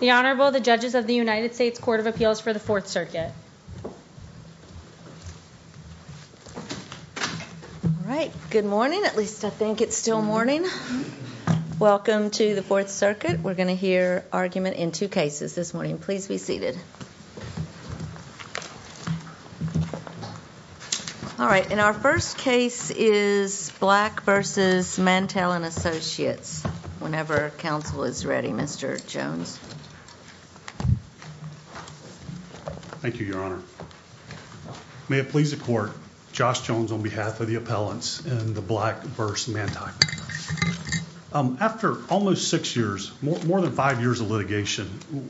The Honorable, the Judges of the United States Court of Appeals for the Fourth Circuit. All right, good morning, at least I think it's still morning. Welcome to the Fourth Circuit. We're going to hear argument in two cases this morning. Please be seated. All right, and our first case is Black v. Mantei & Associates. Whenever counsel is ready, Mr. Jones. Thank you, Your Honor. May it please the Court, Josh Jones on behalf of the appellants in the Black v. Mantei. After almost six years, more than five years of litigation,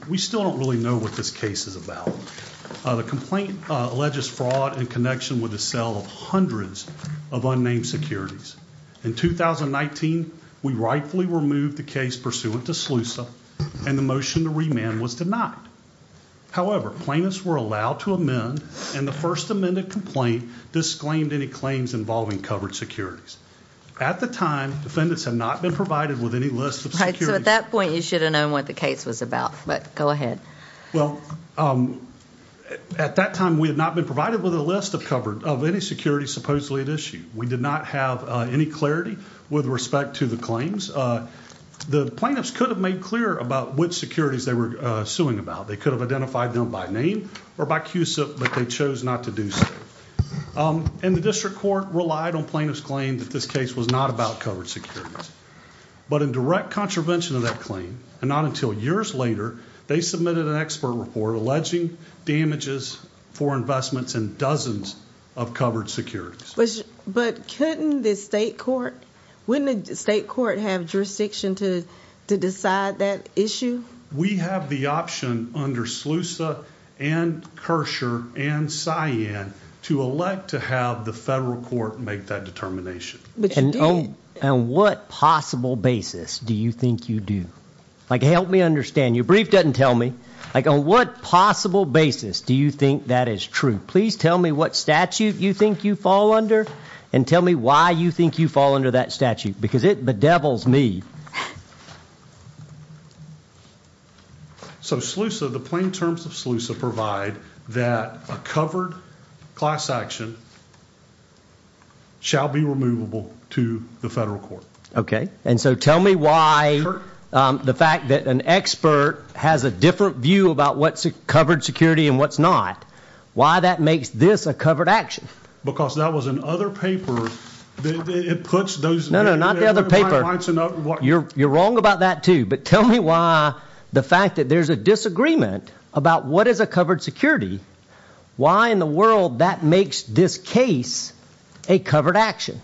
we still don't really know what this case is about. The complaint alleges fraud in connection with the sale of hundreds of unnamed securities. In 2019, we rightfully removed the case pursuant to SLUSA, and the motion to remand was denied. However, plaintiffs were allowed to amend, and the first amended complaint disclaimed any claims involving covered securities. At the time, defendants had not been provided with any list of securities. Right, so at that point, you should have known what the case was about, but go ahead. Well, at that time, we had not been provided with a list of covered, of any securities supposedly at issue. We did not have any clarity with respect to the claims. The plaintiffs could have made clear about which securities they were suing about. They could have identified them by name or by CUSIP, but they chose not to do so. And the district court relied on plaintiffs' claim that this case was not about covered securities, but in direct contravention of that claim, and not until years later, they submitted an expert report alleging damages for investments in dozens of covered securities. But couldn't the state court, wouldn't the state court have jurisdiction to decide that issue? We have the option under SLUSA, and Kersher, and Cyan, to elect to have the federal court make that determination. On what possible basis do you think you do? Like, help me understand. Your brief doesn't tell me. Like, on what possible basis do you think that is true? Please tell me what statute you think you fall under, and tell me why you think you fall under that statute, because it bedevils me. So SLUSA, the plain terms of SLUSA provide that a covered class action shall be removable to the federal court. Okay. And so tell me why the fact that an expert has a different view about what's covered security and what's not, why that makes this a covered action? Because that was in other paper. It puts those... No, no, not the other paper. You're wrong about that too. But tell me why the fact that there's a disagreement about what is a covered security, why in the world that makes this case a covered action?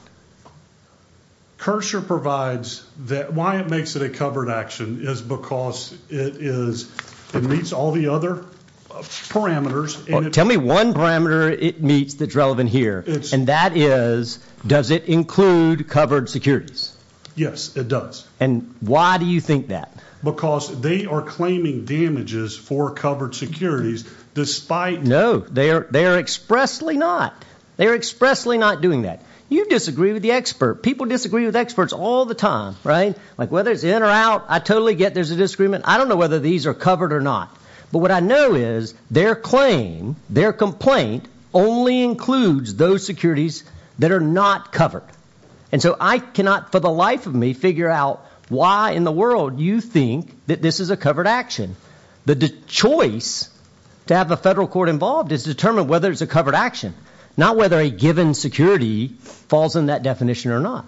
Kersher provides that... Why it makes it a covered action is because it meets all the other parameters. Tell me one parameter it meets that's relevant here, and that is, does it include covered securities? Yes, it does. And why do you think that? Because they are claiming damages for covered securities, despite... No, they are expressly not. They are expressly not doing that. You disagree with the expert. People disagree with experts all the time, right? Like whether it's in or out, I totally get there's a disagreement. I don't know whether these are covered or not. But what I know is their claim, their complaint, only includes those securities that are not covered. And so I cannot, for the life of me, figure out why in the world you think that this is a covered action. The choice to have a federal court involved is to determine whether it's a covered action, not whether a given security falls in that definition or not.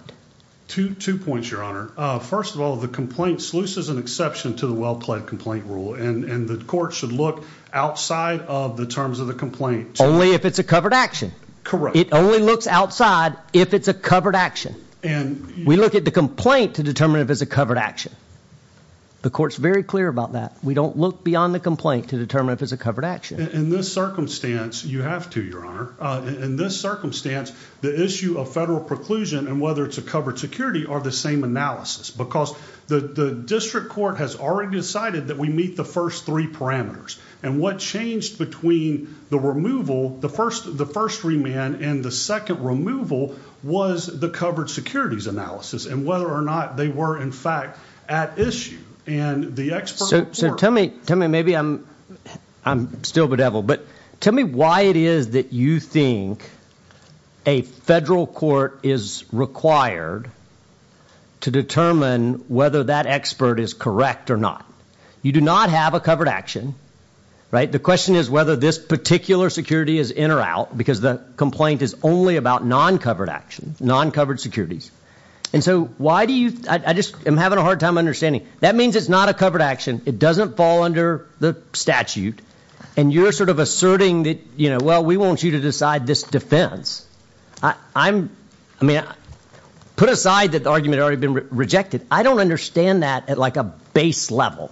Two points, Your Honor. First of all, the complaint sleuths is an exception to the well-plaid complaint rule, and the court should look outside of the terms of the complaint. Only if it's a covered action. Correct. It only looks outside if it's a covered action. We look at the complaint to determine if it's a covered action. The court's very clear about that. We don't look beyond the complaint to determine if it's a covered action. In this circumstance, you have to, Your Honor. In this circumstance, the issue of federal preclusion and whether it's a covered security are the same analysis. Because the district court has already decided that we meet the first three parameters. What changed between the removal, the first remand and the second removal was the covered securities analysis and whether or not they were, in fact, at issue. Tell me, maybe I'm still bedeviled, but tell me why it is that you think a federal court is required to determine whether that expert is correct or not. You do not have a covered action, right? The question is whether this particular security is in or out because the complaint is only about non-covered actions, non-covered securities. And so why do you, I just am having a hard time understanding. That means it's not a covered action. It doesn't fall under the statute and you're sort of asserting that, you know, well, we want you to decide this defense. I'm, I mean, put aside that the argument already been rejected. I don't understand that at like a base level.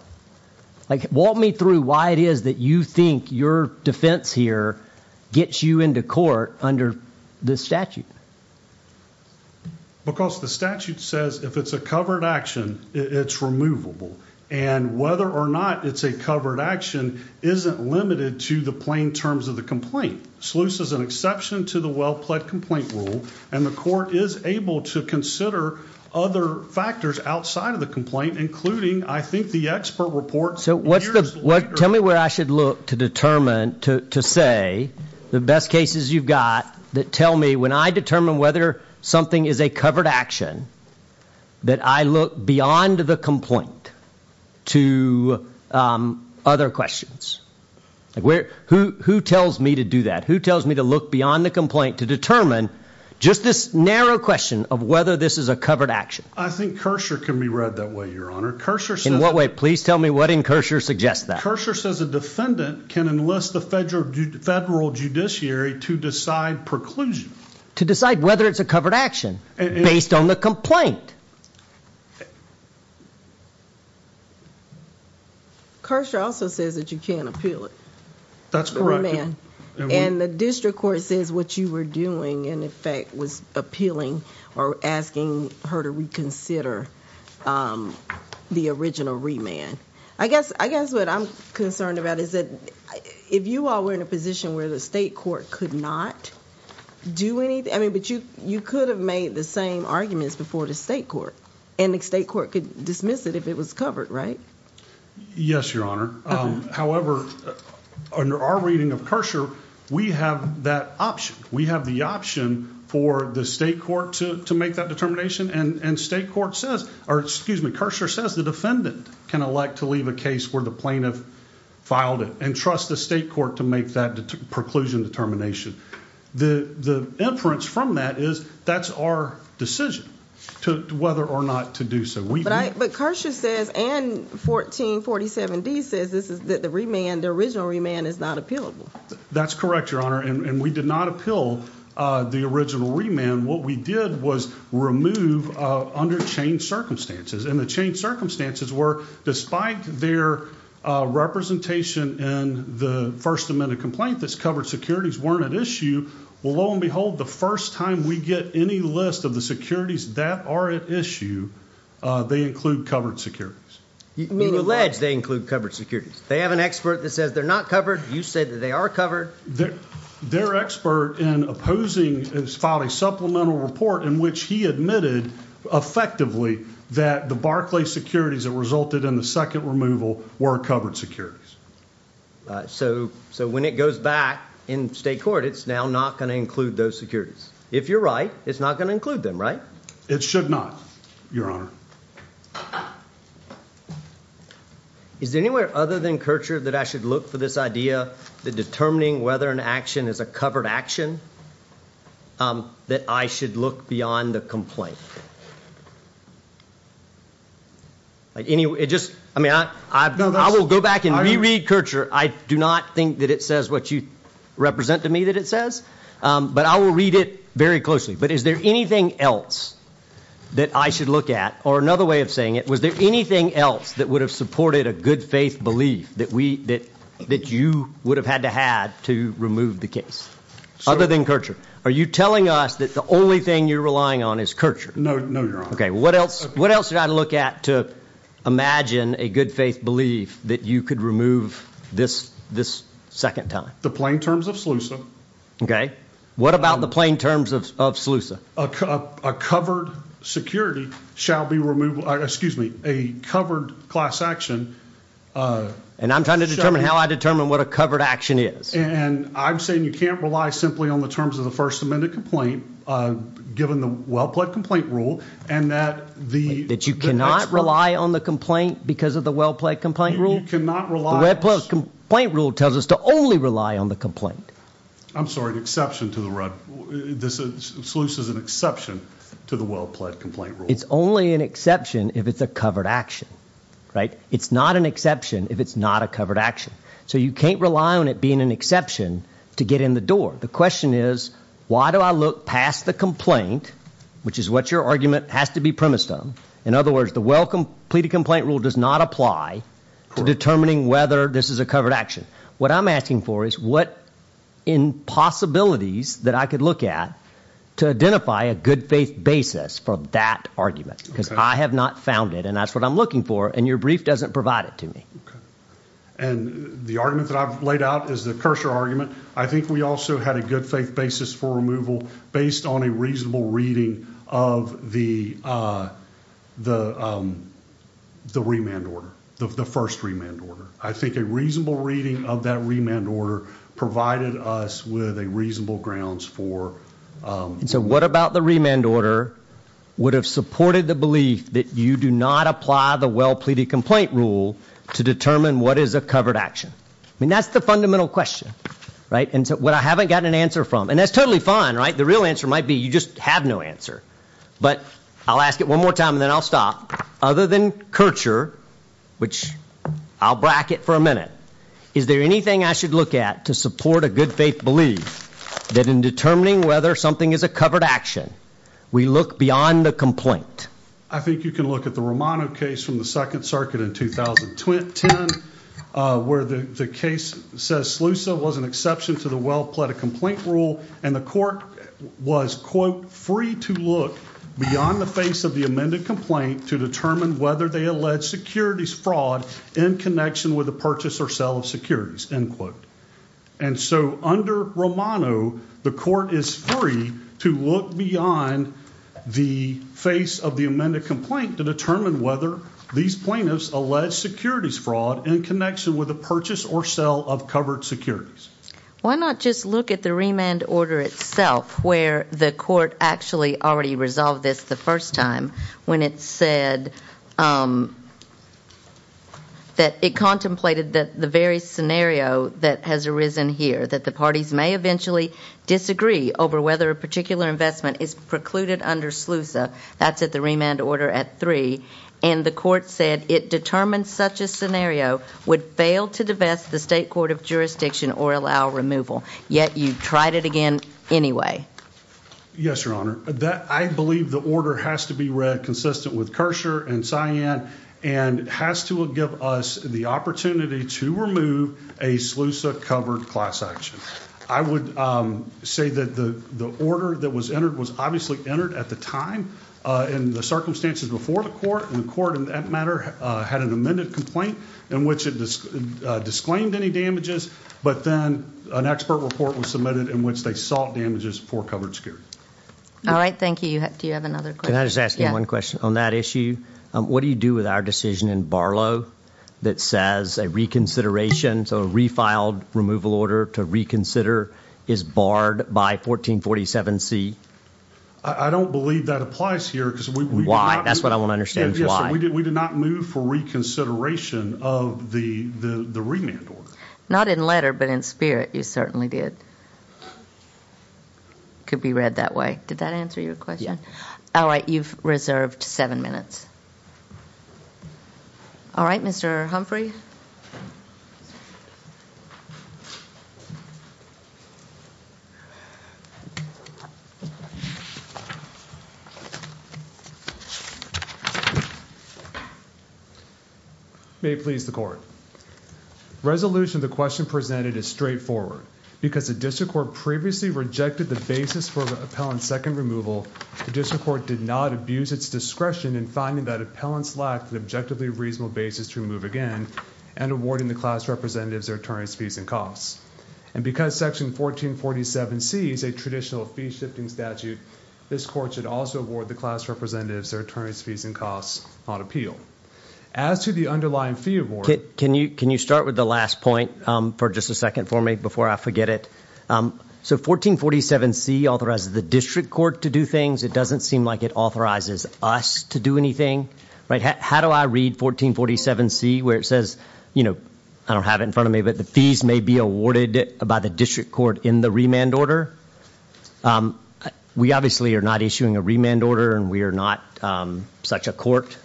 Like, walk me through why it is that you think your defense here gets you into court under this statute. Because the statute says if it's a covered action, it's removable. And whether or not it's a covered action isn't limited to the plain terms of the complaint. SLUIS is an exception to the well-pled complaint rule and the court is able to consider other factors outside of the complaint, including I think the expert report. So what's the, tell me where I should look to determine, to say the best cases you've got that tell me when I determine whether something is a covered action, that I look beyond the complaint to other questions. Like where, who, who tells me to do that? Who tells me to look beyond the complaint to determine just this narrow question of whether this is a covered action? I think Kersher can be read that way, your honor. Kersher says... In what way? Please tell me what in Kersher suggests that. Kersher says a defendant can enlist the federal judiciary to decide preclusion. To decide whether it's a covered action based on the complaint. Kersher also says that you can't appeal it. That's correct. And the district court says what you were doing in effect was appealing or asking her to reconsider the original remand. I guess, I guess what I'm concerned about is that if you all were in a position where the state court could not do anything, I mean, but you, you could have made the same arguments before the state court and the state court could dismiss it if it was covered, right? Yes, your honor. However, under our reading of Kersher, we have that option. We have the option for the state court to, to make that determination. And, and state court says, or excuse me, Kersher says the defendant can elect to leave a case where the plaintiff filed it and trust the state court to make that preclusion determination. The, the inference from that is that's our decision to whether or not to do so. But I, but Kersher says and 1447D says this is that the remand, the original remand is not appealable. That's correct, your honor. And we did not appeal the original remand. What we did was remove under changed circumstances. And the changed circumstances were, despite their representation in the first amendment complaint, this covered securities weren't at issue. Well, lo and behold, the first time we get any list of the securities that are at issue, they include covered securities. You mean, you allege they include covered securities. They have an expert that says they're not covered. You said that they are covered. Their expert in opposing has filed a supplemental report in which he admitted effectively that the Barclay securities that resulted in the second removal were covered securities. So, so when it goes back in state court, it's now not going to include those securities. If you're right, it's not going to include them, right? It should not, your honor. Is there anywhere other than Kircher that I should look for this idea that determining whether an action is a covered action, that I should look beyond the complaint? Like any, it just, I mean, I, I will go back and reread Kircher. I do not think that it says what you represent to me that it says, but I will read it very closely. But is there anything else that I should look at or another way of saying it? Was there anything else that would have supported a good faith belief that we, that, that you would have had to had to remove the case other than Kircher? Are you telling us that the only thing you're relying on is Kircher? No, no, your honor. Okay. What else, what else should I look at to imagine a good faith belief that you could remove this, this second time? The plain terms of Slusa. Okay. What about the plain terms of Slusa? A covered security shall be removed. Excuse me. A covered class action. And I'm trying to determine how I determine what a covered action is. And I'm saying you can't rely simply on the terms of the first amendment complaint, given the well-plaid complaint rule and that the. That you cannot rely on the complaint because of the well-plaid complaint rule. You cannot rely. The red plus complaint rule tells us to only rely on the complaint. I'm sorry, an exception to the red. This is Slusa is an exception to the well-plaid complaint rule. It's only an exception if it's a covered action, right? It's not an exception if it's not a covered action. So you can't rely on it being an exception to get in the door. The question is, why do I look past the complaint, which is what your argument has to be premised on. In other words, the well completed complaint rule does not apply to determining whether this is a covered action. What I'm asking for is what in possibilities that I could look at to identify a good faith basis for that argument. Because I have not found it and that's what I'm looking for. And your brief doesn't provide it to me. And the argument that I've laid out is the cursor argument. I think we also had a good faith basis for removal based on a reasonable reading of the remand order, the first remand order. I think a reasonable reading of that remand order provided us with a reasonable grounds for. So what about the remand order would have supported the belief that you do not apply the well pleaded complaint rule to determine what is a covered action? I mean, that's the fundamental question, right? And what I haven't gotten an answer from and that's totally fine, right? The real answer might be you just have no answer. But I'll ask it one more time and then I'll stop. Other than Kircher, which I'll bracket for a minute, is there anything I should look at to support a good faith belief that in determining whether something is a covered action, we look beyond the complaint? I think you can look at the Romano case from the Second Circuit in 2010, where the case says Slusa was an exception to the well pleaded complaint rule. And the court was, quote, free to look beyond the face of the amended complaint to determine whether they allege securities fraud in connection with a purchase or sell of securities, end quote. And so under Romano, the court is free to look beyond the face of the amended complaint to determine whether these plaintiffs allege securities fraud in connection with a purchase or sell of covered securities. Why not just look at the remand order itself, where the court actually already resolved this the first time when it said that it contemplated that the very scenario that has arisen here, that the parties may eventually disagree over whether a particular investment is precluded under Slusa, that's at the remand order at three. And the court said it determined such a scenario would fail to divest the state court of jurisdiction or allow removal. Yet you tried it again anyway. Yes, your honor. I believe the order has to be read consistent with Kersher and Cyan and has to give us the opportunity to remove a Slusa covered class action. I would say that the order that was entered was obviously entered at the time in the circumstances before the court. And the court in that matter had an amended complaint in which it disclaimed any damages. But then an expert report was submitted in which they sought damages for covered security. All right. Thank you. Do you have another question? Can I just ask you one question on that issue? What do you do with our decision in Barlow that says a reconsideration, so a refiled removal order to reconsider is barred by 1447 C? I don't believe that applies here. Why? That's what I want to understand. Yes, we did. We did not move for reconsideration of the remand order. Not in letter, but in spirit. You certainly did. Could be read that way. Did that answer your question? Yeah. All right. You've reserved seven minutes. All right, Mr. Humphrey. May it please the court. The resolution of the question presented is straightforward. Because the district court previously rejected the basis for the appellant's second removal, the district court did not abuse its discretion in finding that appellants lacked an objectively reasonable basis to remove again and awarding the class representatives their attorney's fees and costs. And because section 1447 C is a traditional fee shifting statute, this court should also award the class representatives their attorney's fees and costs on appeal. As to the underlying fee award. Can you start with the last point for just a second for me before I forget it? So 1447 C authorizes the district court to do things. It doesn't seem like it authorizes us to do anything. How do I read 1447 C where it says, I don't have it in front of me, but the fees may be awarded by the district court in the remand order? We obviously are not issuing a remand order and we are not such a court.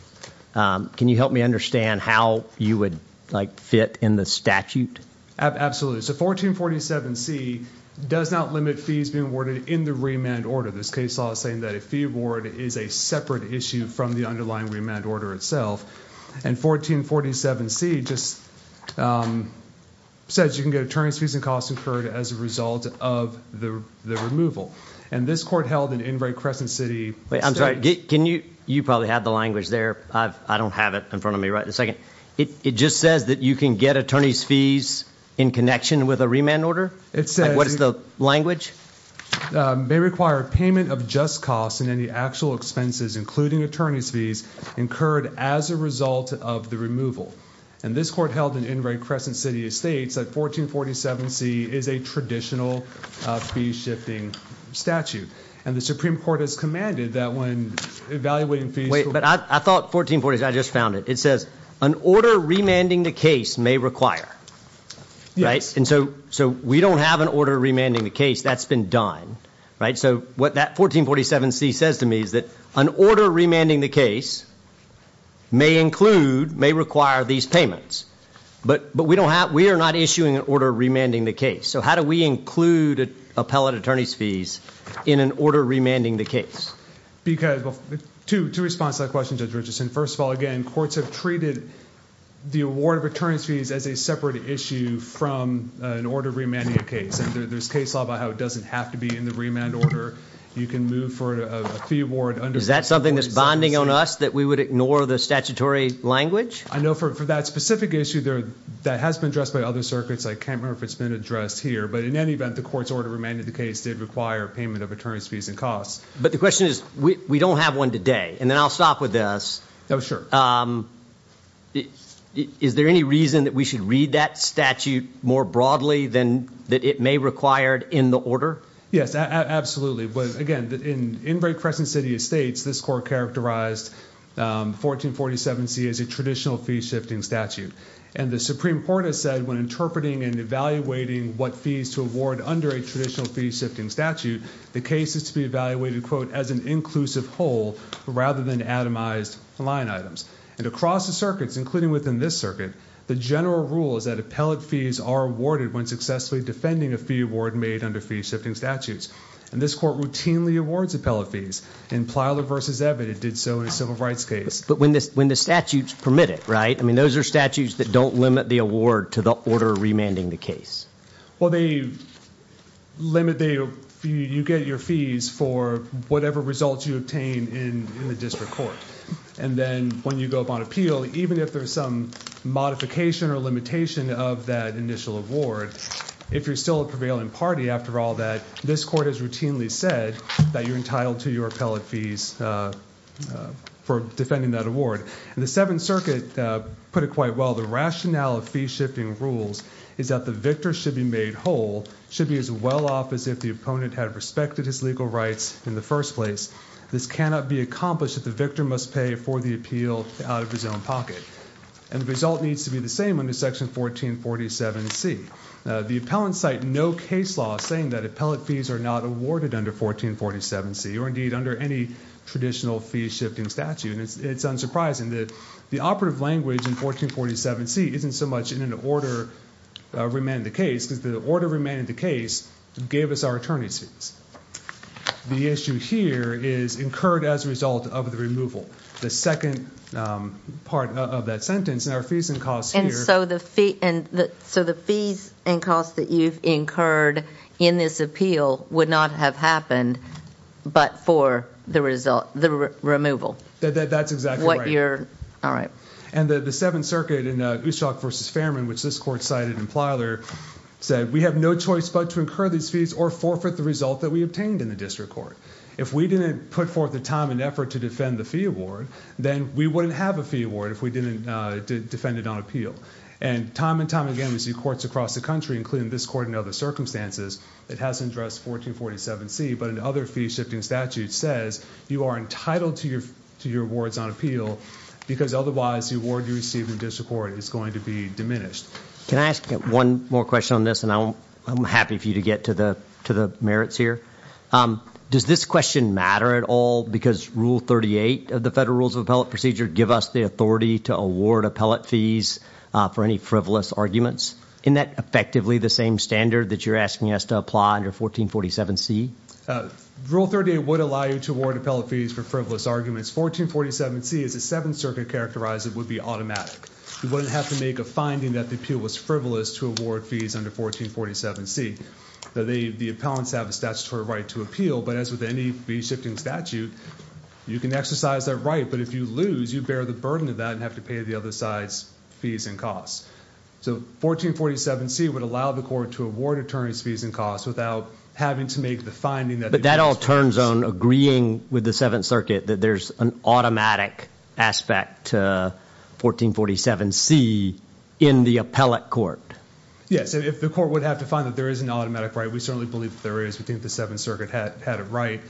Can you help me understand how you would like fit in the statute? So 1447 C does not limit fees being awarded in the remand order. This case law is saying that a fee award is a separate issue from the underlying remand order itself. And 1447 C just says you can get attorney's fees and costs incurred as a result of the removal. And this court held in Enright Crescent City. I'm sorry, you probably had the language there. I don't have it in front of me right this second. It just says that you can get attorney's fees in connection with a remand order. What is the language? They require payment of just costs and any actual expenses, including attorney's fees incurred as a result of the removal. And this court held in Enright Crescent City states that 1447 C is a traditional fee shifting statute. And the Supreme Court has commanded that when evaluating fees... Wait, but I thought 1447 C, I just found it. It says an order remanding the case may require, right? And so we don't have an order remanding the case. That's been done, right? So what that 1447 C says to me is that an order remanding the case may include, may require these payments. But we don't have, we are not issuing an order remanding the case. So how do we include appellate attorney's fees in an order remanding the case? Because, well, two responses to that question, Judge Richardson. First of all, again, courts have treated the award of attorney's fees as a separate issue from an order remanding a case. And there's case law about how it doesn't have to be in the remand order. You can move for a fee award under... Is that something that's bonding on us that we would ignore the statutory language? I know for that specific issue, that has been addressed by other circuits. I can't remember if it's been addressed. But in any event, the court's order remanding the case did require payment of attorney's fees and costs. But the question is, we don't have one today. And then I'll stop with this. Is there any reason that we should read that statute more broadly than that it may require in the order? Yes, absolutely. But again, in very crescent city estates, this court characterized 1447 C as a traditional fee shifting statute. And the Supreme Court has said when interpreting and evaluating what fees to award under a traditional fee shifting statute, the case is to be evaluated, quote, as an inclusive whole rather than atomized line items. And across the circuits, including within this circuit, the general rule is that appellate fees are awarded when successfully defending a fee award made under fee shifting statutes. And this court routinely awards appellate fees. In Plyler v. Evatt, it did so in a civil rights case. But when the statutes permit it, right? I mean, those are statutes that don't limit the award to the order remanding the case. Well, you get your fees for whatever results you obtain in the district court. And then when you go up on appeal, even if there's some modification or limitation of that initial award, if you're still a prevailing party after all that, this court has routinely said that you're entitled to your appellate fees for defending that award. And the Seventh Circuit put it quite well. The rationale of fee shifting rules is that the victor should be made whole, should be as well-off as if the opponent had respected his legal rights in the first place. This cannot be accomplished if the victor must pay for the appeal out of his own pocket. And the result needs to be the same under Section 1447C. The appellants cite no case law saying that appellate fees are not awarded under 1447C, or indeed under any traditional fee shifting statute. And it's unsurprising that the operative language in 1447C isn't so much in an order remaining the case, because the order remaining the case gave us our attorney's fees. The issue here is incurred as a result of the removal. The second part of that sentence, and our fees and costs here... And so the fees and costs that you've incurred in this appeal would not have happened but for the removal? That's exactly right. What you're... all right. And the Seventh Circuit in Ustock v. Fairman, which this court cited in Plyler, said we have no choice but to incur these fees or forfeit the result that we obtained in the district court. If we didn't put forth the time and effort to defend the fee award, then we wouldn't have a fee award if we didn't defend it on appeal. And time and time again, we see courts across the country, including this court and other circumstances, that has addressed 1447C, but in other fee shifting statutes says you are entitled to your awards on appeal, because otherwise the award you receive in district court is going to be diminished. Can I ask one more question on this? And I'm happy for you to get to the merits here. Does this question matter at all because Rule 38 of the Federal Rules of Appellate Procedure give us the authority to award appellate fees for any frivolous arguments? Isn't that effectively the same standard that you're asking us to apply under 1447C? Rule 38 would allow you to award appellate fees for frivolous arguments. 1447C, as the Seventh Circuit characterized it, would be automatic. You wouldn't have to make a finding that the appeal was frivolous to award fees under 1447C. The appellants have a statutory right to appeal, but as with any fee shifting statute, you can exercise that right, but if you lose, you bear the burden of that and have to pay the other side's fees and costs. So 1447C would allow the court to award attorneys fees and costs without having to make the finding that- But that all turns on agreeing with the Seventh Circuit that there's an automatic aspect to 1447C in the appellate court. Yes, if the court would have to find that there is an automatic right, we certainly believe that there is. We think the Seventh Circuit had a right,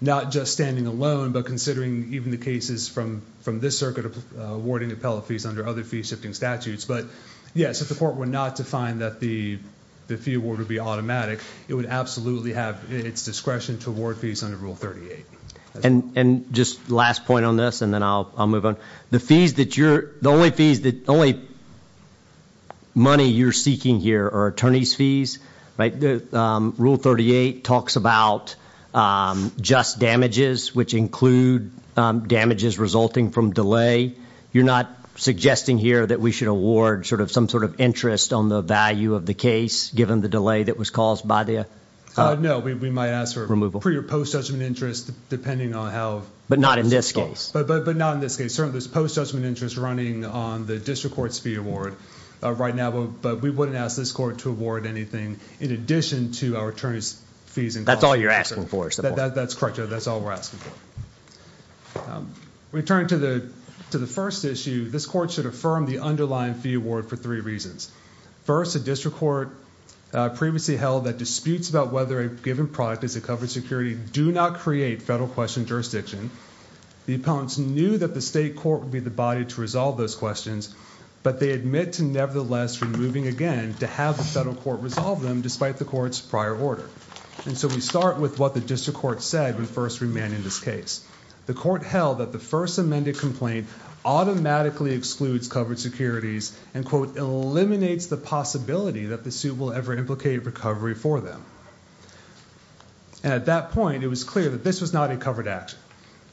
not just standing alone, but considering even the cases from this circuit awarding appellate fees under other fee shifting statutes. But yes, if the court were not to find that the fee award would be automatic, it would absolutely have its discretion to award fees under Rule 38. And just last point on this, and then I'll move on. The fees that you're- The only fees that- The only money you're seeking here are attorneys fees, right? Rule 38 talks about just damages, which include damages resulting from delay. You're not suggesting here that we should award some sort of interest on the value of the case, given the delay that was caused by the- No, we might ask for- Removal. For your post-judgment interest, depending on how- But not in this case. But not in this case. Certainly, there's post-judgment interest running on the district court's fee award right now, but we wouldn't ask this court to award anything in addition to our attorneys fees- That's all you're asking for, is the point. That's correct, that's all we're asking for. Returning to the first issue, this court should affirm the underlying fee award for three reasons. First, a district court previously held that disputes about whether a given product is a covered security do not create federal question jurisdiction. The opponents knew that the state court would be the body to resolve those questions, but they admit to nevertheless removing again to have the federal court resolve them, despite the court's prior order. And so we start with what the district court said when first remanding this case. The court held that the first amended complaint automatically excludes covered securities and quote, eliminates the possibility that the suit will ever implicate recovery for them. And at that point, it was clear that this was not a covered action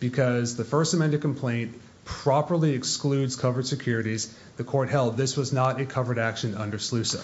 because the first amended complaint properly excludes covered securities. The court held this was not a covered action under SLUSA.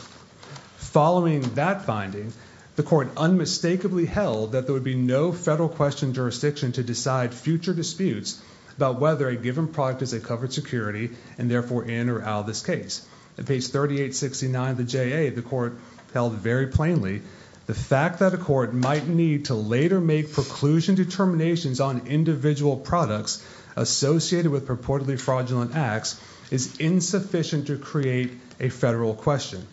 Following that finding, the court unmistakably held that there would be no federal question jurisdiction to decide future disputes about whether a given product is a covered security and therefore in or out of this case. At page 3869 of the JA, the court held very plainly the fact that a court might need to later make preclusion determinations on individual products associated with purportedly fraudulent acts is insufficient to create a federal question.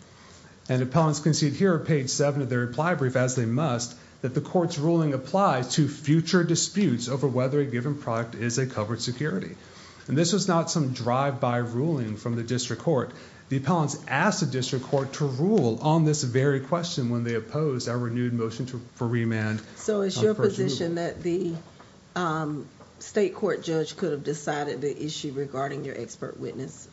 And appellants concede here at page seven of their reply brief, as they must, that the court's ruling applies to future disputes over whether a given product is a covered security. And this was not some drive-by ruling from the district court. The appellants asked the district court to rule on this very question when they opposed our renewed motion for remand. So it's your position that the state court judge could have decided the issue regarding your expert witness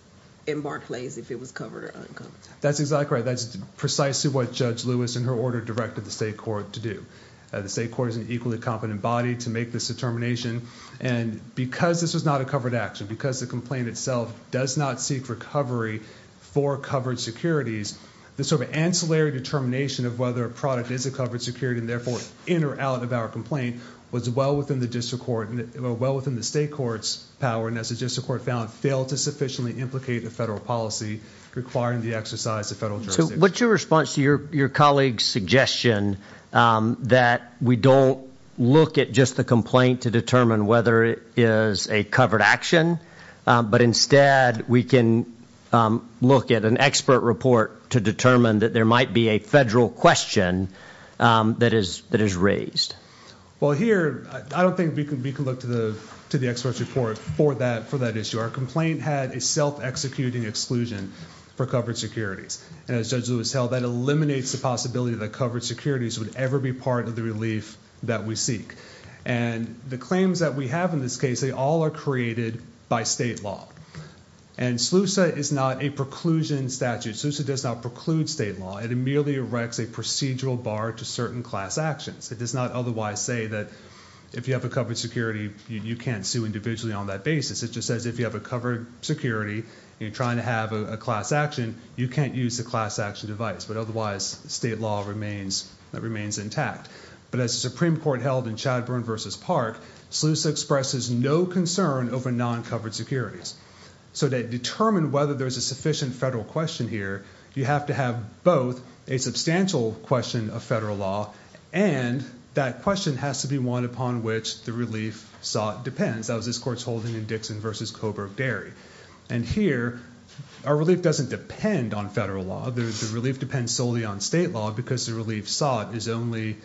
in Barclays if it was covered or uncovered? That's exactly right. That's precisely what Judge Lewis and her order directed the state court to do. The state court is an equally competent body to make this determination. And because this was not a covered action, because the complaint itself does not seek recovery for covered securities, the sort of ancillary determination of whether a product is a covered security and therefore in or out of our complaint was well within the district court, well within the state court's power, and as the district court found, failed to sufficiently implicate the federal policy requiring the exercise of federal jurisdiction. So what's your response to your colleague's suggestion that we don't look at just the complaint to determine whether it is a covered action, but instead we can look at an expert report to determine that there might be a federal question that is raised? Well, here, I don't think we can look to the expert's report for that issue. Our complaint had a self-executing exclusion for covered securities. And as Judge Lewis held, that eliminates the possibility that covered securities would ever be part of the relief that we seek. And the claims that we have in this case, they all are created by state law. And SLUSA is not a preclusion statute. SLUSA does not preclude state law. It merely erects a procedural bar to certain class actions. It does not otherwise say that if you have a covered security, you can't sue individually on that basis. It just says if you have a covered security and you're trying to have a class action, you can't use the class action device. But otherwise, state law remains intact. But as the Supreme Court held in Chadburn versus Park, SLUSA expresses no concern over non-covered securities. So to determine whether there's a sufficient federal question here, you have to have both a substantial question of federal law, and that question has to be one upon which the relief sought depends. That was this court's holding in Dixon versus Coburg-Derry. And here, our relief doesn't depend on federal law. The relief depends solely on state law because the relief sought is only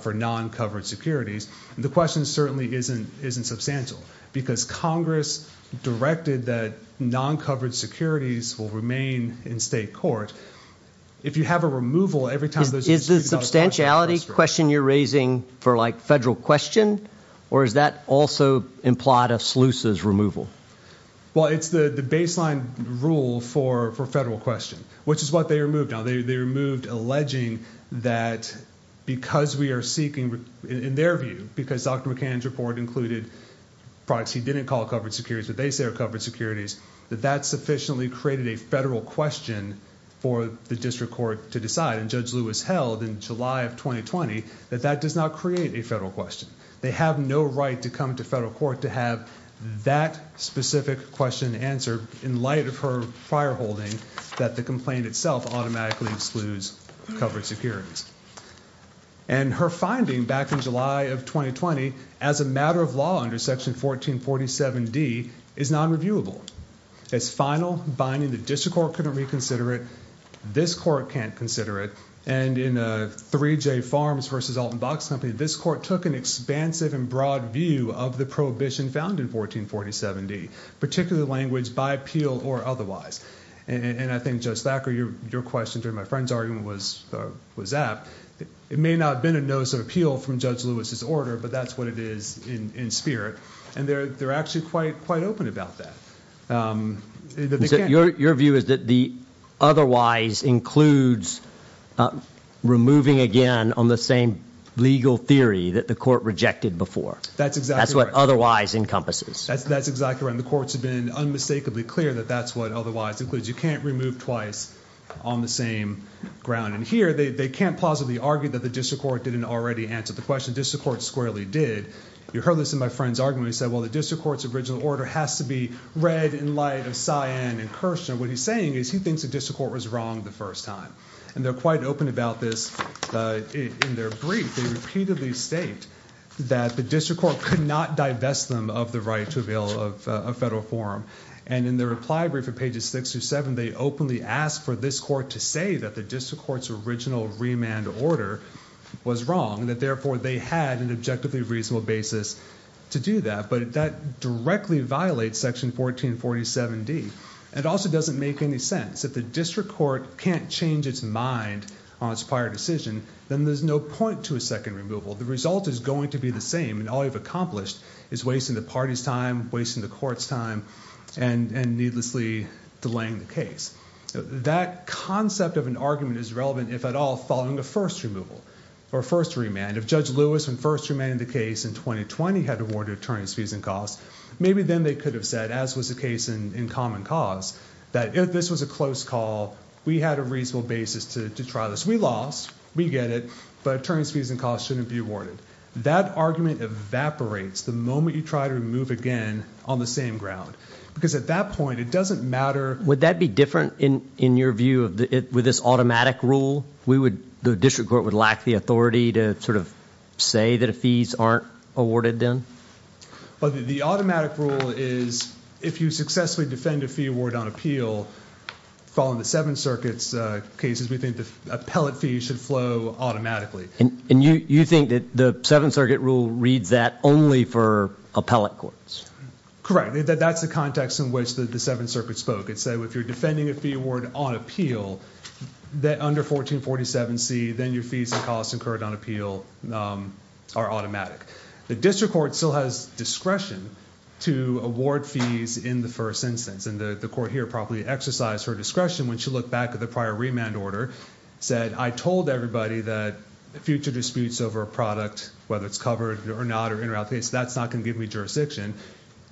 for non-covered securities. The question certainly isn't substantial because Congress directed that non-covered securities will remain in state court. If you have a removal every time... Is the substantiality question you're raising for like federal question, or is that also implied of SLUSA's removal? Well, it's the baseline rule for federal question, which is what they removed. Now, they removed alleging that because we are seeking, in their view, because Dr. McCann's report included products he didn't call covered securities, but they say are covered securities, that that sufficiently created a federal question for the district court to decide. And Judge Lewis held in July of 2020 that that does not create a federal question. They have no right to come to federal court to have that specific question answered in light of her prior holding that the complaint itself automatically excludes covered securities. And her finding back in July of 2020, as a matter of law under Section 1447D, is non-reviewable. As final binding, the district court couldn't reconsider it. This court can't consider it. And in 3J Farms versus Alton Box Company, this court took an expansive and broad view of the prohibition found in 1447D, particularly language by appeal or otherwise. And I think, Judge Thacker, your question during my friend's argument was that. It may not have been a notice of appeal from Judge Lewis's order, but that's what it is in spirit. And they're actually quite open about that. Your view is that the otherwise includes removing again on the same legal theory that the court rejected before. That's exactly right. That's what otherwise encompasses. That's exactly right. And the courts have been unmistakably clear that that's what otherwise includes. You can't remove twice on the same ground. And here, they can't plausibly argue that the district court didn't already answer the question. District Court squarely did. You heard this in my friend's argument. He said, well, the district court's original order has to be read in light of Cyan and Kirshner. What he's saying is he thinks the district court was wrong the first time. And they're quite open about this in their brief. They repeatedly state that the district court could not divest them of the right to avail of a federal forum. And in their reply brief at pages six through seven, they openly ask for this court to say that the district court's original remand order was wrong, and that therefore, they had an objectively reasonable basis to do that. But that directly violates section 1447D. It also doesn't make any sense. If the district court can't change its mind on its prior decision, then there's no point to a second removal. The result is going to be the same. And all you've accomplished is wasting the party's time, wasting the court's time, and needlessly delaying the case. That concept of an argument is relevant, if at all, following a first removal, or first remand. If Judge Lewis, when first remanded the case in 2020, had awarded attorney's fees and costs, maybe then they could have said, as was the case in common cause, that if this was a close call, we had a reasonable basis to try this. We lost, we get it, but attorney's fees and costs shouldn't be awarded. That argument evaporates the moment you try to remove again on the same ground. Because at that point, it doesn't matter. Would that be different in your view with this automatic rule? The district court would lack the authority to sort of say that fees aren't awarded then? The automatic rule is, if you successfully defend a fee award on appeal, following the Seventh Circuit's cases, we think the appellate fee should flow automatically. And you think that the Seventh Circuit rule reads that only for appellate courts? Correct. That's the context in which the Seventh Circuit spoke. If you're defending a fee award on appeal, that under 1447C, then your fees and costs incurred on appeal are automatic. The district court still has discretion to award fees in the first instance. And the court here probably exercised her discretion when she looked back at the prior remand order, said, I told everybody that future disputes over a product, whether it's covered or not, or in or out case, that's not gonna give me jurisdiction.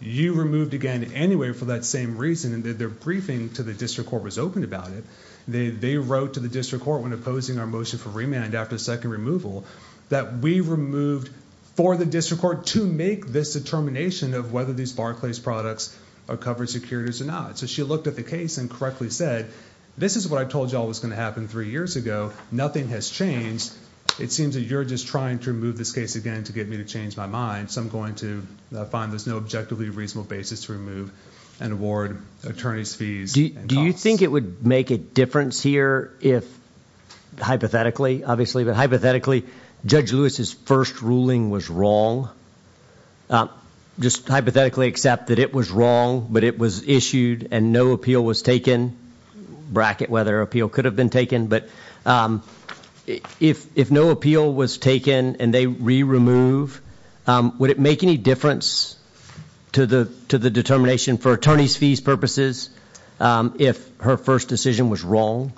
You removed again anyway for that same reason, their briefing to the district court was open about it. They wrote to the district court when opposing our motion for remand after second removal, that we removed for the district court to make this determination of whether these Barclays products are covered securities or not. So she looked at the case and correctly said, this is what I told y'all was gonna happen three years ago. Nothing has changed. It seems that you're just trying to remove this case again to get me to change my mind. So I'm going to find there's no objectively reasonable basis to remove and award attorney's fees. Do you think it would make a difference here if hypothetically, obviously, but hypothetically, Judge Lewis's first ruling was wrong. Just hypothetically accept that it was wrong, but it was issued and no appeal was taken. Bracket whether appeal could have been taken, but if no appeal was taken and they re-remove, would it make any difference to the determination for attorney's fees purposes if her first decision was wrong?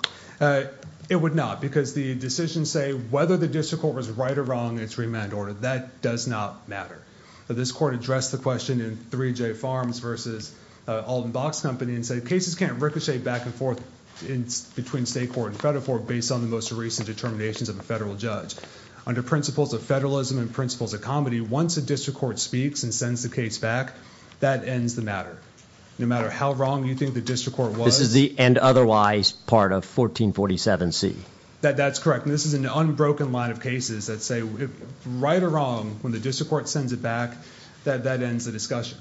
It would not because the decision say, whether the district court was right or wrong, it's remand order. That does not matter. This court addressed the question in 3J Farms versus Alton Box Company and say, cases can't ricochet back and forth between state court and federal court based on the most recent determinations of a federal judge. Under principles of federalism and principles of comedy, once a district court speaks and sends the case back, that ends the matter. No matter how wrong you think the district court was. This is the end otherwise part of 1447 C. That's correct. This is an unbroken line of cases that say, right or wrong, when the district court sends it back, that ends the discussion.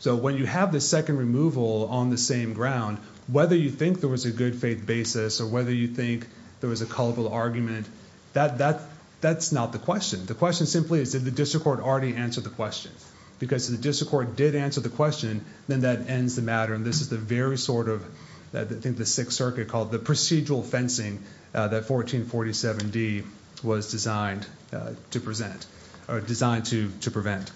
So when you have the second removal on the same ground, whether you think there was a good faith basis or whether you think there was a colorful argument, that's not the question. The question simply is, did the district court already answer the question? Because if the district court did answer the question, then that ends the matter. And this is the very sort of, I think the Sixth Circuit called the procedural fencing that 1447 D was designed to present or designed to prevent.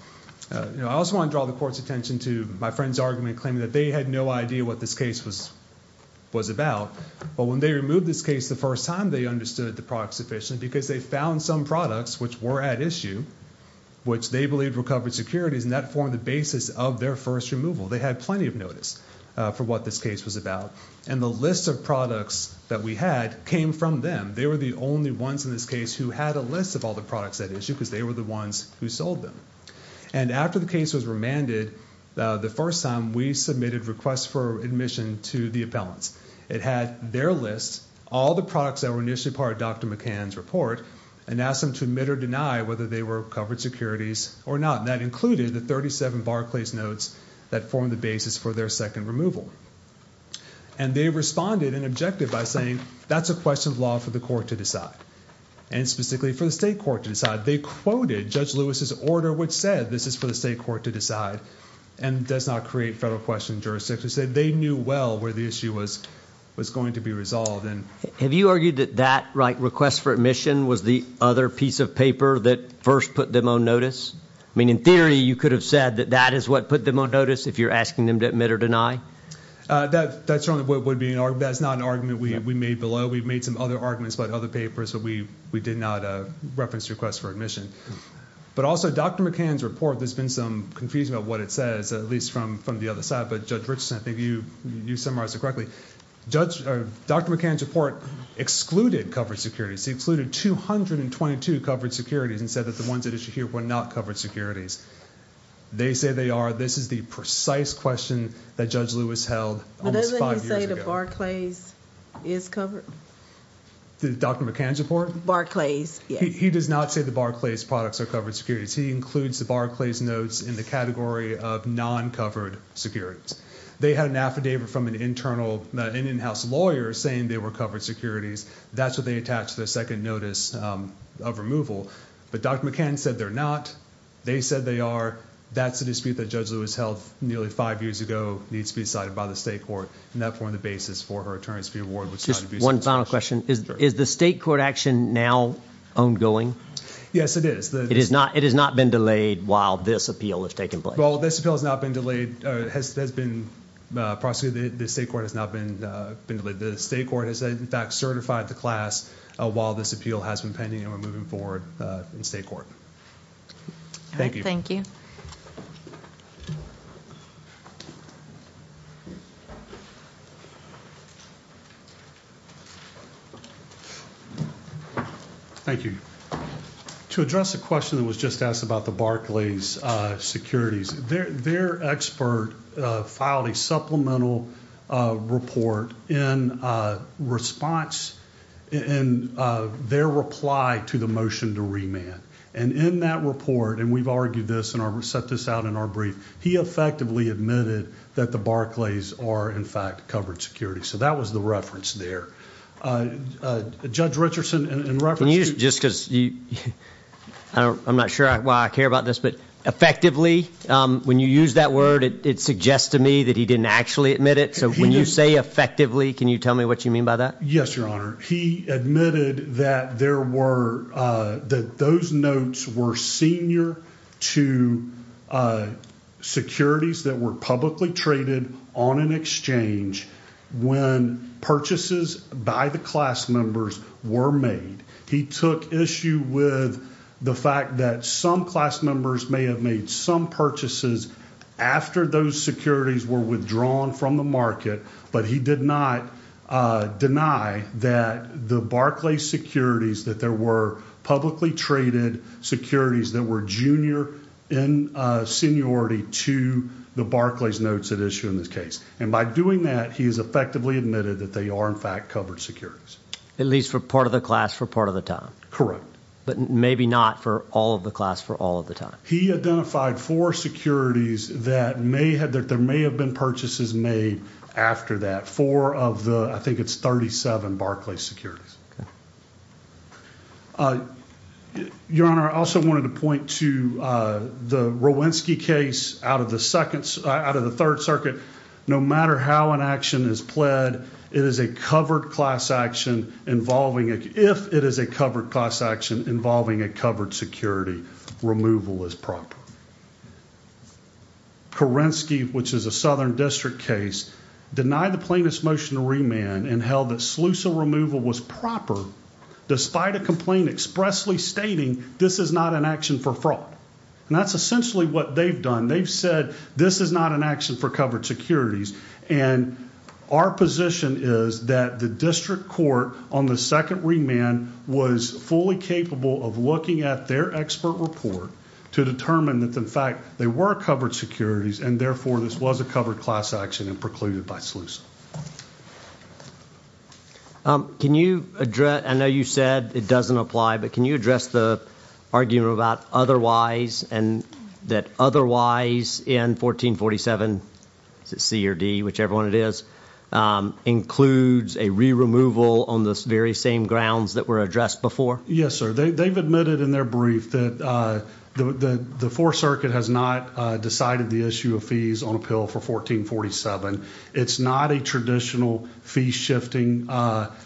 I also want to draw the court's attention to my friend's argument claiming that they had no idea what this case was about. But when they removed this case the first time, they understood the product's efficient because they found some products which were at issue, which they believed recovered securities and that formed the basis of their first removal. They had plenty of notice for what this case was about. And the list of products that we had came from them. They were the only ones in this case who had a list of all the products at issue because they were the ones who sold them. And after the case was remanded, the first time we submitted requests for admission to the appellants. It had their list, all the products that were initially part of Dr. McCann's report, and asked them to admit or deny whether they were covered securities or not. And that included the 37 Barclays notes that formed the basis for their second removal. And they responded and objected by saying, that's a question of law for the court to decide. And specifically for the state court to decide. They quoted Judge Lewis's order which said this is for the state court to decide and does not create federal question jurisdictions. They knew well where the issue was going to be resolved. Have you argued that that request for admission was the other piece of paper that first put them on notice? I mean, in theory, you could have said that that is what put them on notice if you're asking them to admit or deny. That's not an argument we made below. We've made some other arguments about other papers, but we did not reference the request for admission. But also Dr. McCann's report, there's been some confusion about what it says, at least from the other side. But Judge Richardson, I think you summarized it correctly. Judge, Dr. McCann's report excluded covered securities. He excluded 222 covered securities and said that the ones at issue here were not covered securities. They say they are. This is the precise question that Judge Lewis held almost five years ago. But doesn't he say the Barclays is covered? Dr. McCann's report? Barclays, yes. He does not say the Barclays products are covered securities. He includes the Barclays notes in the category of non-covered securities. They had an affidavit from an in-house lawyer saying they were covered securities. That's what they attached to the second notice of removal. But Dr. McCann said they're not. They said they are. That's the dispute that Judge Lewis held nearly five years ago needs to be decided by the state court. And that formed the basis for her attorney's fee award. One final question. Is the state court action now ongoing? Yes, it is. It has not been delayed while this appeal has taken place? Well, this appeal has not been delayed, has been prosecuted. The state court has not been delayed. The state court has in fact certified the class while this appeal has been pending and we're moving forward in state court. All right, thank you. Thank you. To address the question that was just asked about the Barclays securities, their expert filed a supplemental report in response in their reply to the motion to remand. And in that report, and we've argued this and set this out in our brief, he effectively admitted that the Barclays are in fact covered securities. So that was the reference there. Judge Richardson, in reference- Just because you, I'm not sure why I care about this, effectively, when you use that word, it suggests to me that he didn't actually admit it. So when you say effectively, can you tell me what you mean by that? Yes, your honor. He admitted that there were, that those notes were senior to securities that were publicly traded on an exchange when purchases by the class members were made. He took issue with the fact that some class members may have made some purchases after those securities were withdrawn from the market, but he did not deny that the Barclays securities, that there were publicly traded securities that were junior in seniority to the Barclays notes at issue in this case. And by doing that, he has effectively admitted that they are in fact covered securities. At least for part of the class for part of the time. Correct. But maybe not for all of the class for all of the time. He identified four securities that there may have been purchases made after that, four of the, I think it's 37 Barclays securities. Your honor, I also wanted to point to the Rowinsky case out of the third circuit. No matter how an action is pled, it is a covered class action involving, if it is a covered class action involving a covered security, removal is proper. Kerensky, which is a Southern district case, denied the plaintiff's motion to remand and held that Slusa removal was proper, despite a complaint expressly stating this is not an action for fraud. And that's essentially what they've done. They've said, this is not an action for covered securities and our position is that the district court on the second remand was fully capable of looking at their expert report to determine that in fact, they were covered securities and therefore this was a covered class action and precluded by Slusa. Can you address, I know you said it doesn't apply, but can you address the argument about otherwise that otherwise in 1447, is it C or D, whichever one it is, includes a re-removal on the very same grounds that were addressed before? Yes, sir. They've admitted in their brief that the fourth circuit has not decided the issue of fees on appeal for 1447. It's not a traditional fee shifting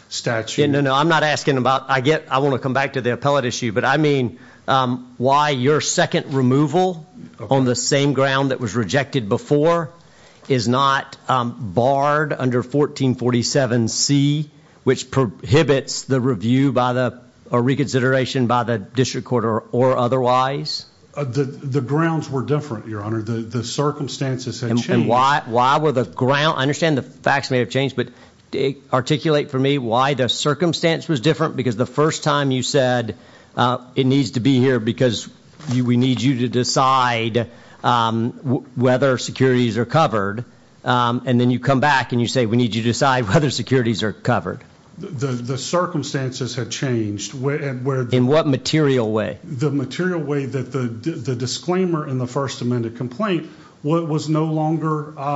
statute. No, no, I'm not asking about, I want to come back to the appellate issue, but I mean, why your second removal on the same ground that was rejected before is not barred under 1447 C, which prohibits the review by the reconsideration by the district court or otherwise? The grounds were different, your honor. The circumstances had changed. Why were the ground, I understand the facts may have changed, but articulate for me why the circumstance was different because the first time you said, it needs to be here because we need you to decide whether securities are covered. And then you come back and you say, we need you to decide whether securities are covered. The circumstances have changed. In what material way? The material way that the disclaimer in the first amended complaint was no longer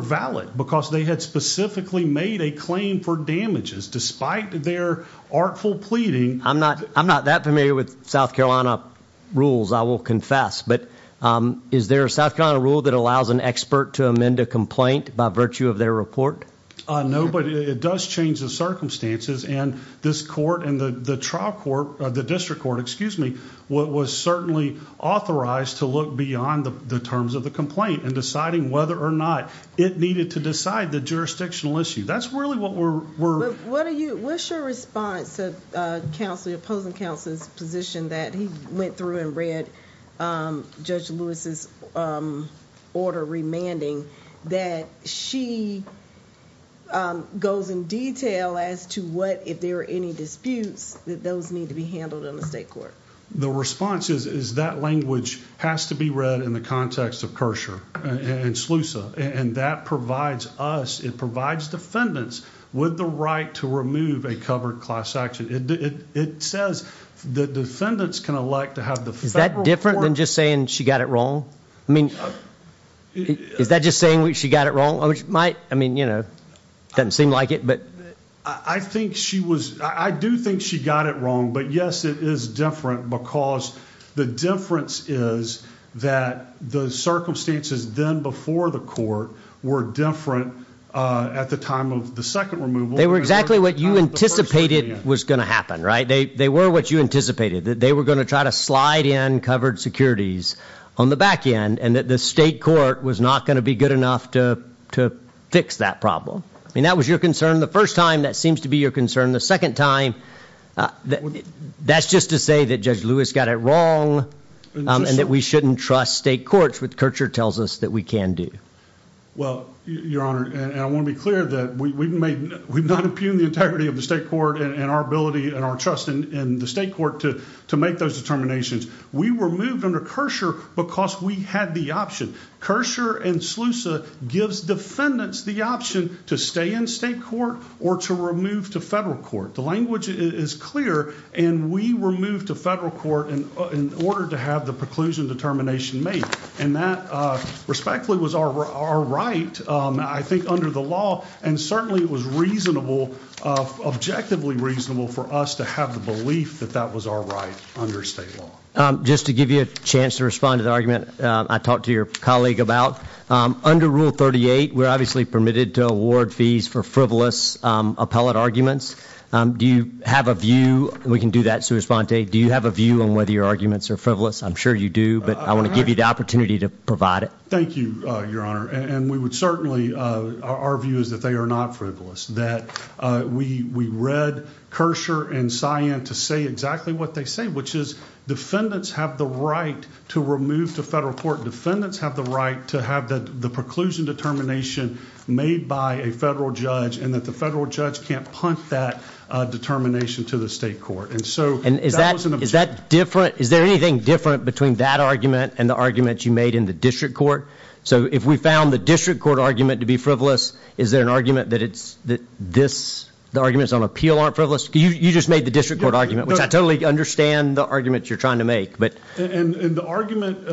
valid because they had specifically made a claim for damages despite their artful pleading. I'm not, I'm not that familiar with South Carolina rules, I will confess, but is there a South Carolina rule that allows an expert to amend a complaint by virtue of their report? No, but it does change the circumstances and this court and the trial court, the district court, excuse me, what was certainly authorized to look beyond the terms of the complaint and deciding whether or not it needed to decide the jurisdictional issue. That's really what we're, What are you, what's your response to the opposing counsel's position that he went through and read Judge Lewis's order remanding that she goes in detail as to what, if there are any disputes, that those need to be handled in the state court. The response is that language has to be read in the context of Kershaw and Slusa. And that provides us, it provides defendants with the right to remove a covered class action. It says the defendants can elect to have the federal court. Is that different than just saying she got it wrong? I mean, is that just saying she got it wrong, which might, I mean, you know, doesn't seem like it, but. I think she was, I do think she got it wrong, but yes, it is different because the difference is that the circumstances then before the court were different at the time of the second removal. They were exactly what you anticipated was going to happen, right? They were what you anticipated, that they were going to try to slide in covered securities on the back end and that the state court was not going to be good enough to fix that problem. I mean, that was your concern the first time. That seems to be your concern the second time. That's just to say that Judge Lewis got it wrong and that we shouldn't trust state courts with Kershaw tells us that we can do. Well, Your Honor, and I want to be clear that we've made, we've not impugned the integrity of the state court and our ability and our trust in the state court to make those determinations. We were moved under Kershaw because we had the option. Kershaw and Slusa gives defendants the option to stay in state court or to remove to federal court. The language is clear and we were moved to federal court in order to have the preclusion determination made and that respectfully was our right. I think under the law and certainly it was reasonable, objectively reasonable for us to have the belief that that was our right under state law. Just to give you a chance to respond to the argument I talked to your colleague about under Rule 38, we're obviously permitted to award fees for frivolous appellate arguments. Do you have a view? We can do that. Do you have a view on whether your arguments are frivolous? I'm sure you do, I want to give you the opportunity to provide it. Thank you, Your Honor. Our view is that they are not frivolous, that we read Kershaw and Cyan to say exactly what they say, which is defendants have the right to remove to federal court, defendants have the right to have the preclusion determination made by a federal judge and that the federal judge can't punt that determination to the state court. Is that different? Is there anything different between that argument and the argument you made in the district court? So if we found the district court argument to be frivolous, is there an argument that it's, that this, the arguments on appeal aren't frivolous? You just made the district court argument, which I totally understand the arguments you're trying to make. And the argument,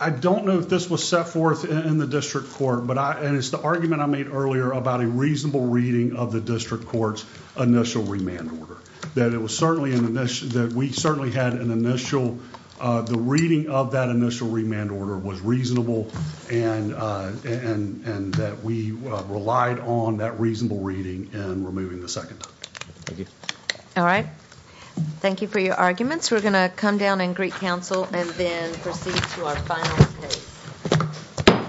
I don't know if this was set forth in the district court, and it's the argument I made earlier about a reasonable reading of the district court's initial remand order. That it was certainly, that we certainly had an initial the reading of that initial remand order was reasonable and that we relied on that reasonable reading and removing the second. Thank you. All right. Thank you for your arguments. We're going to come down and greet counsel and then proceed to our final case.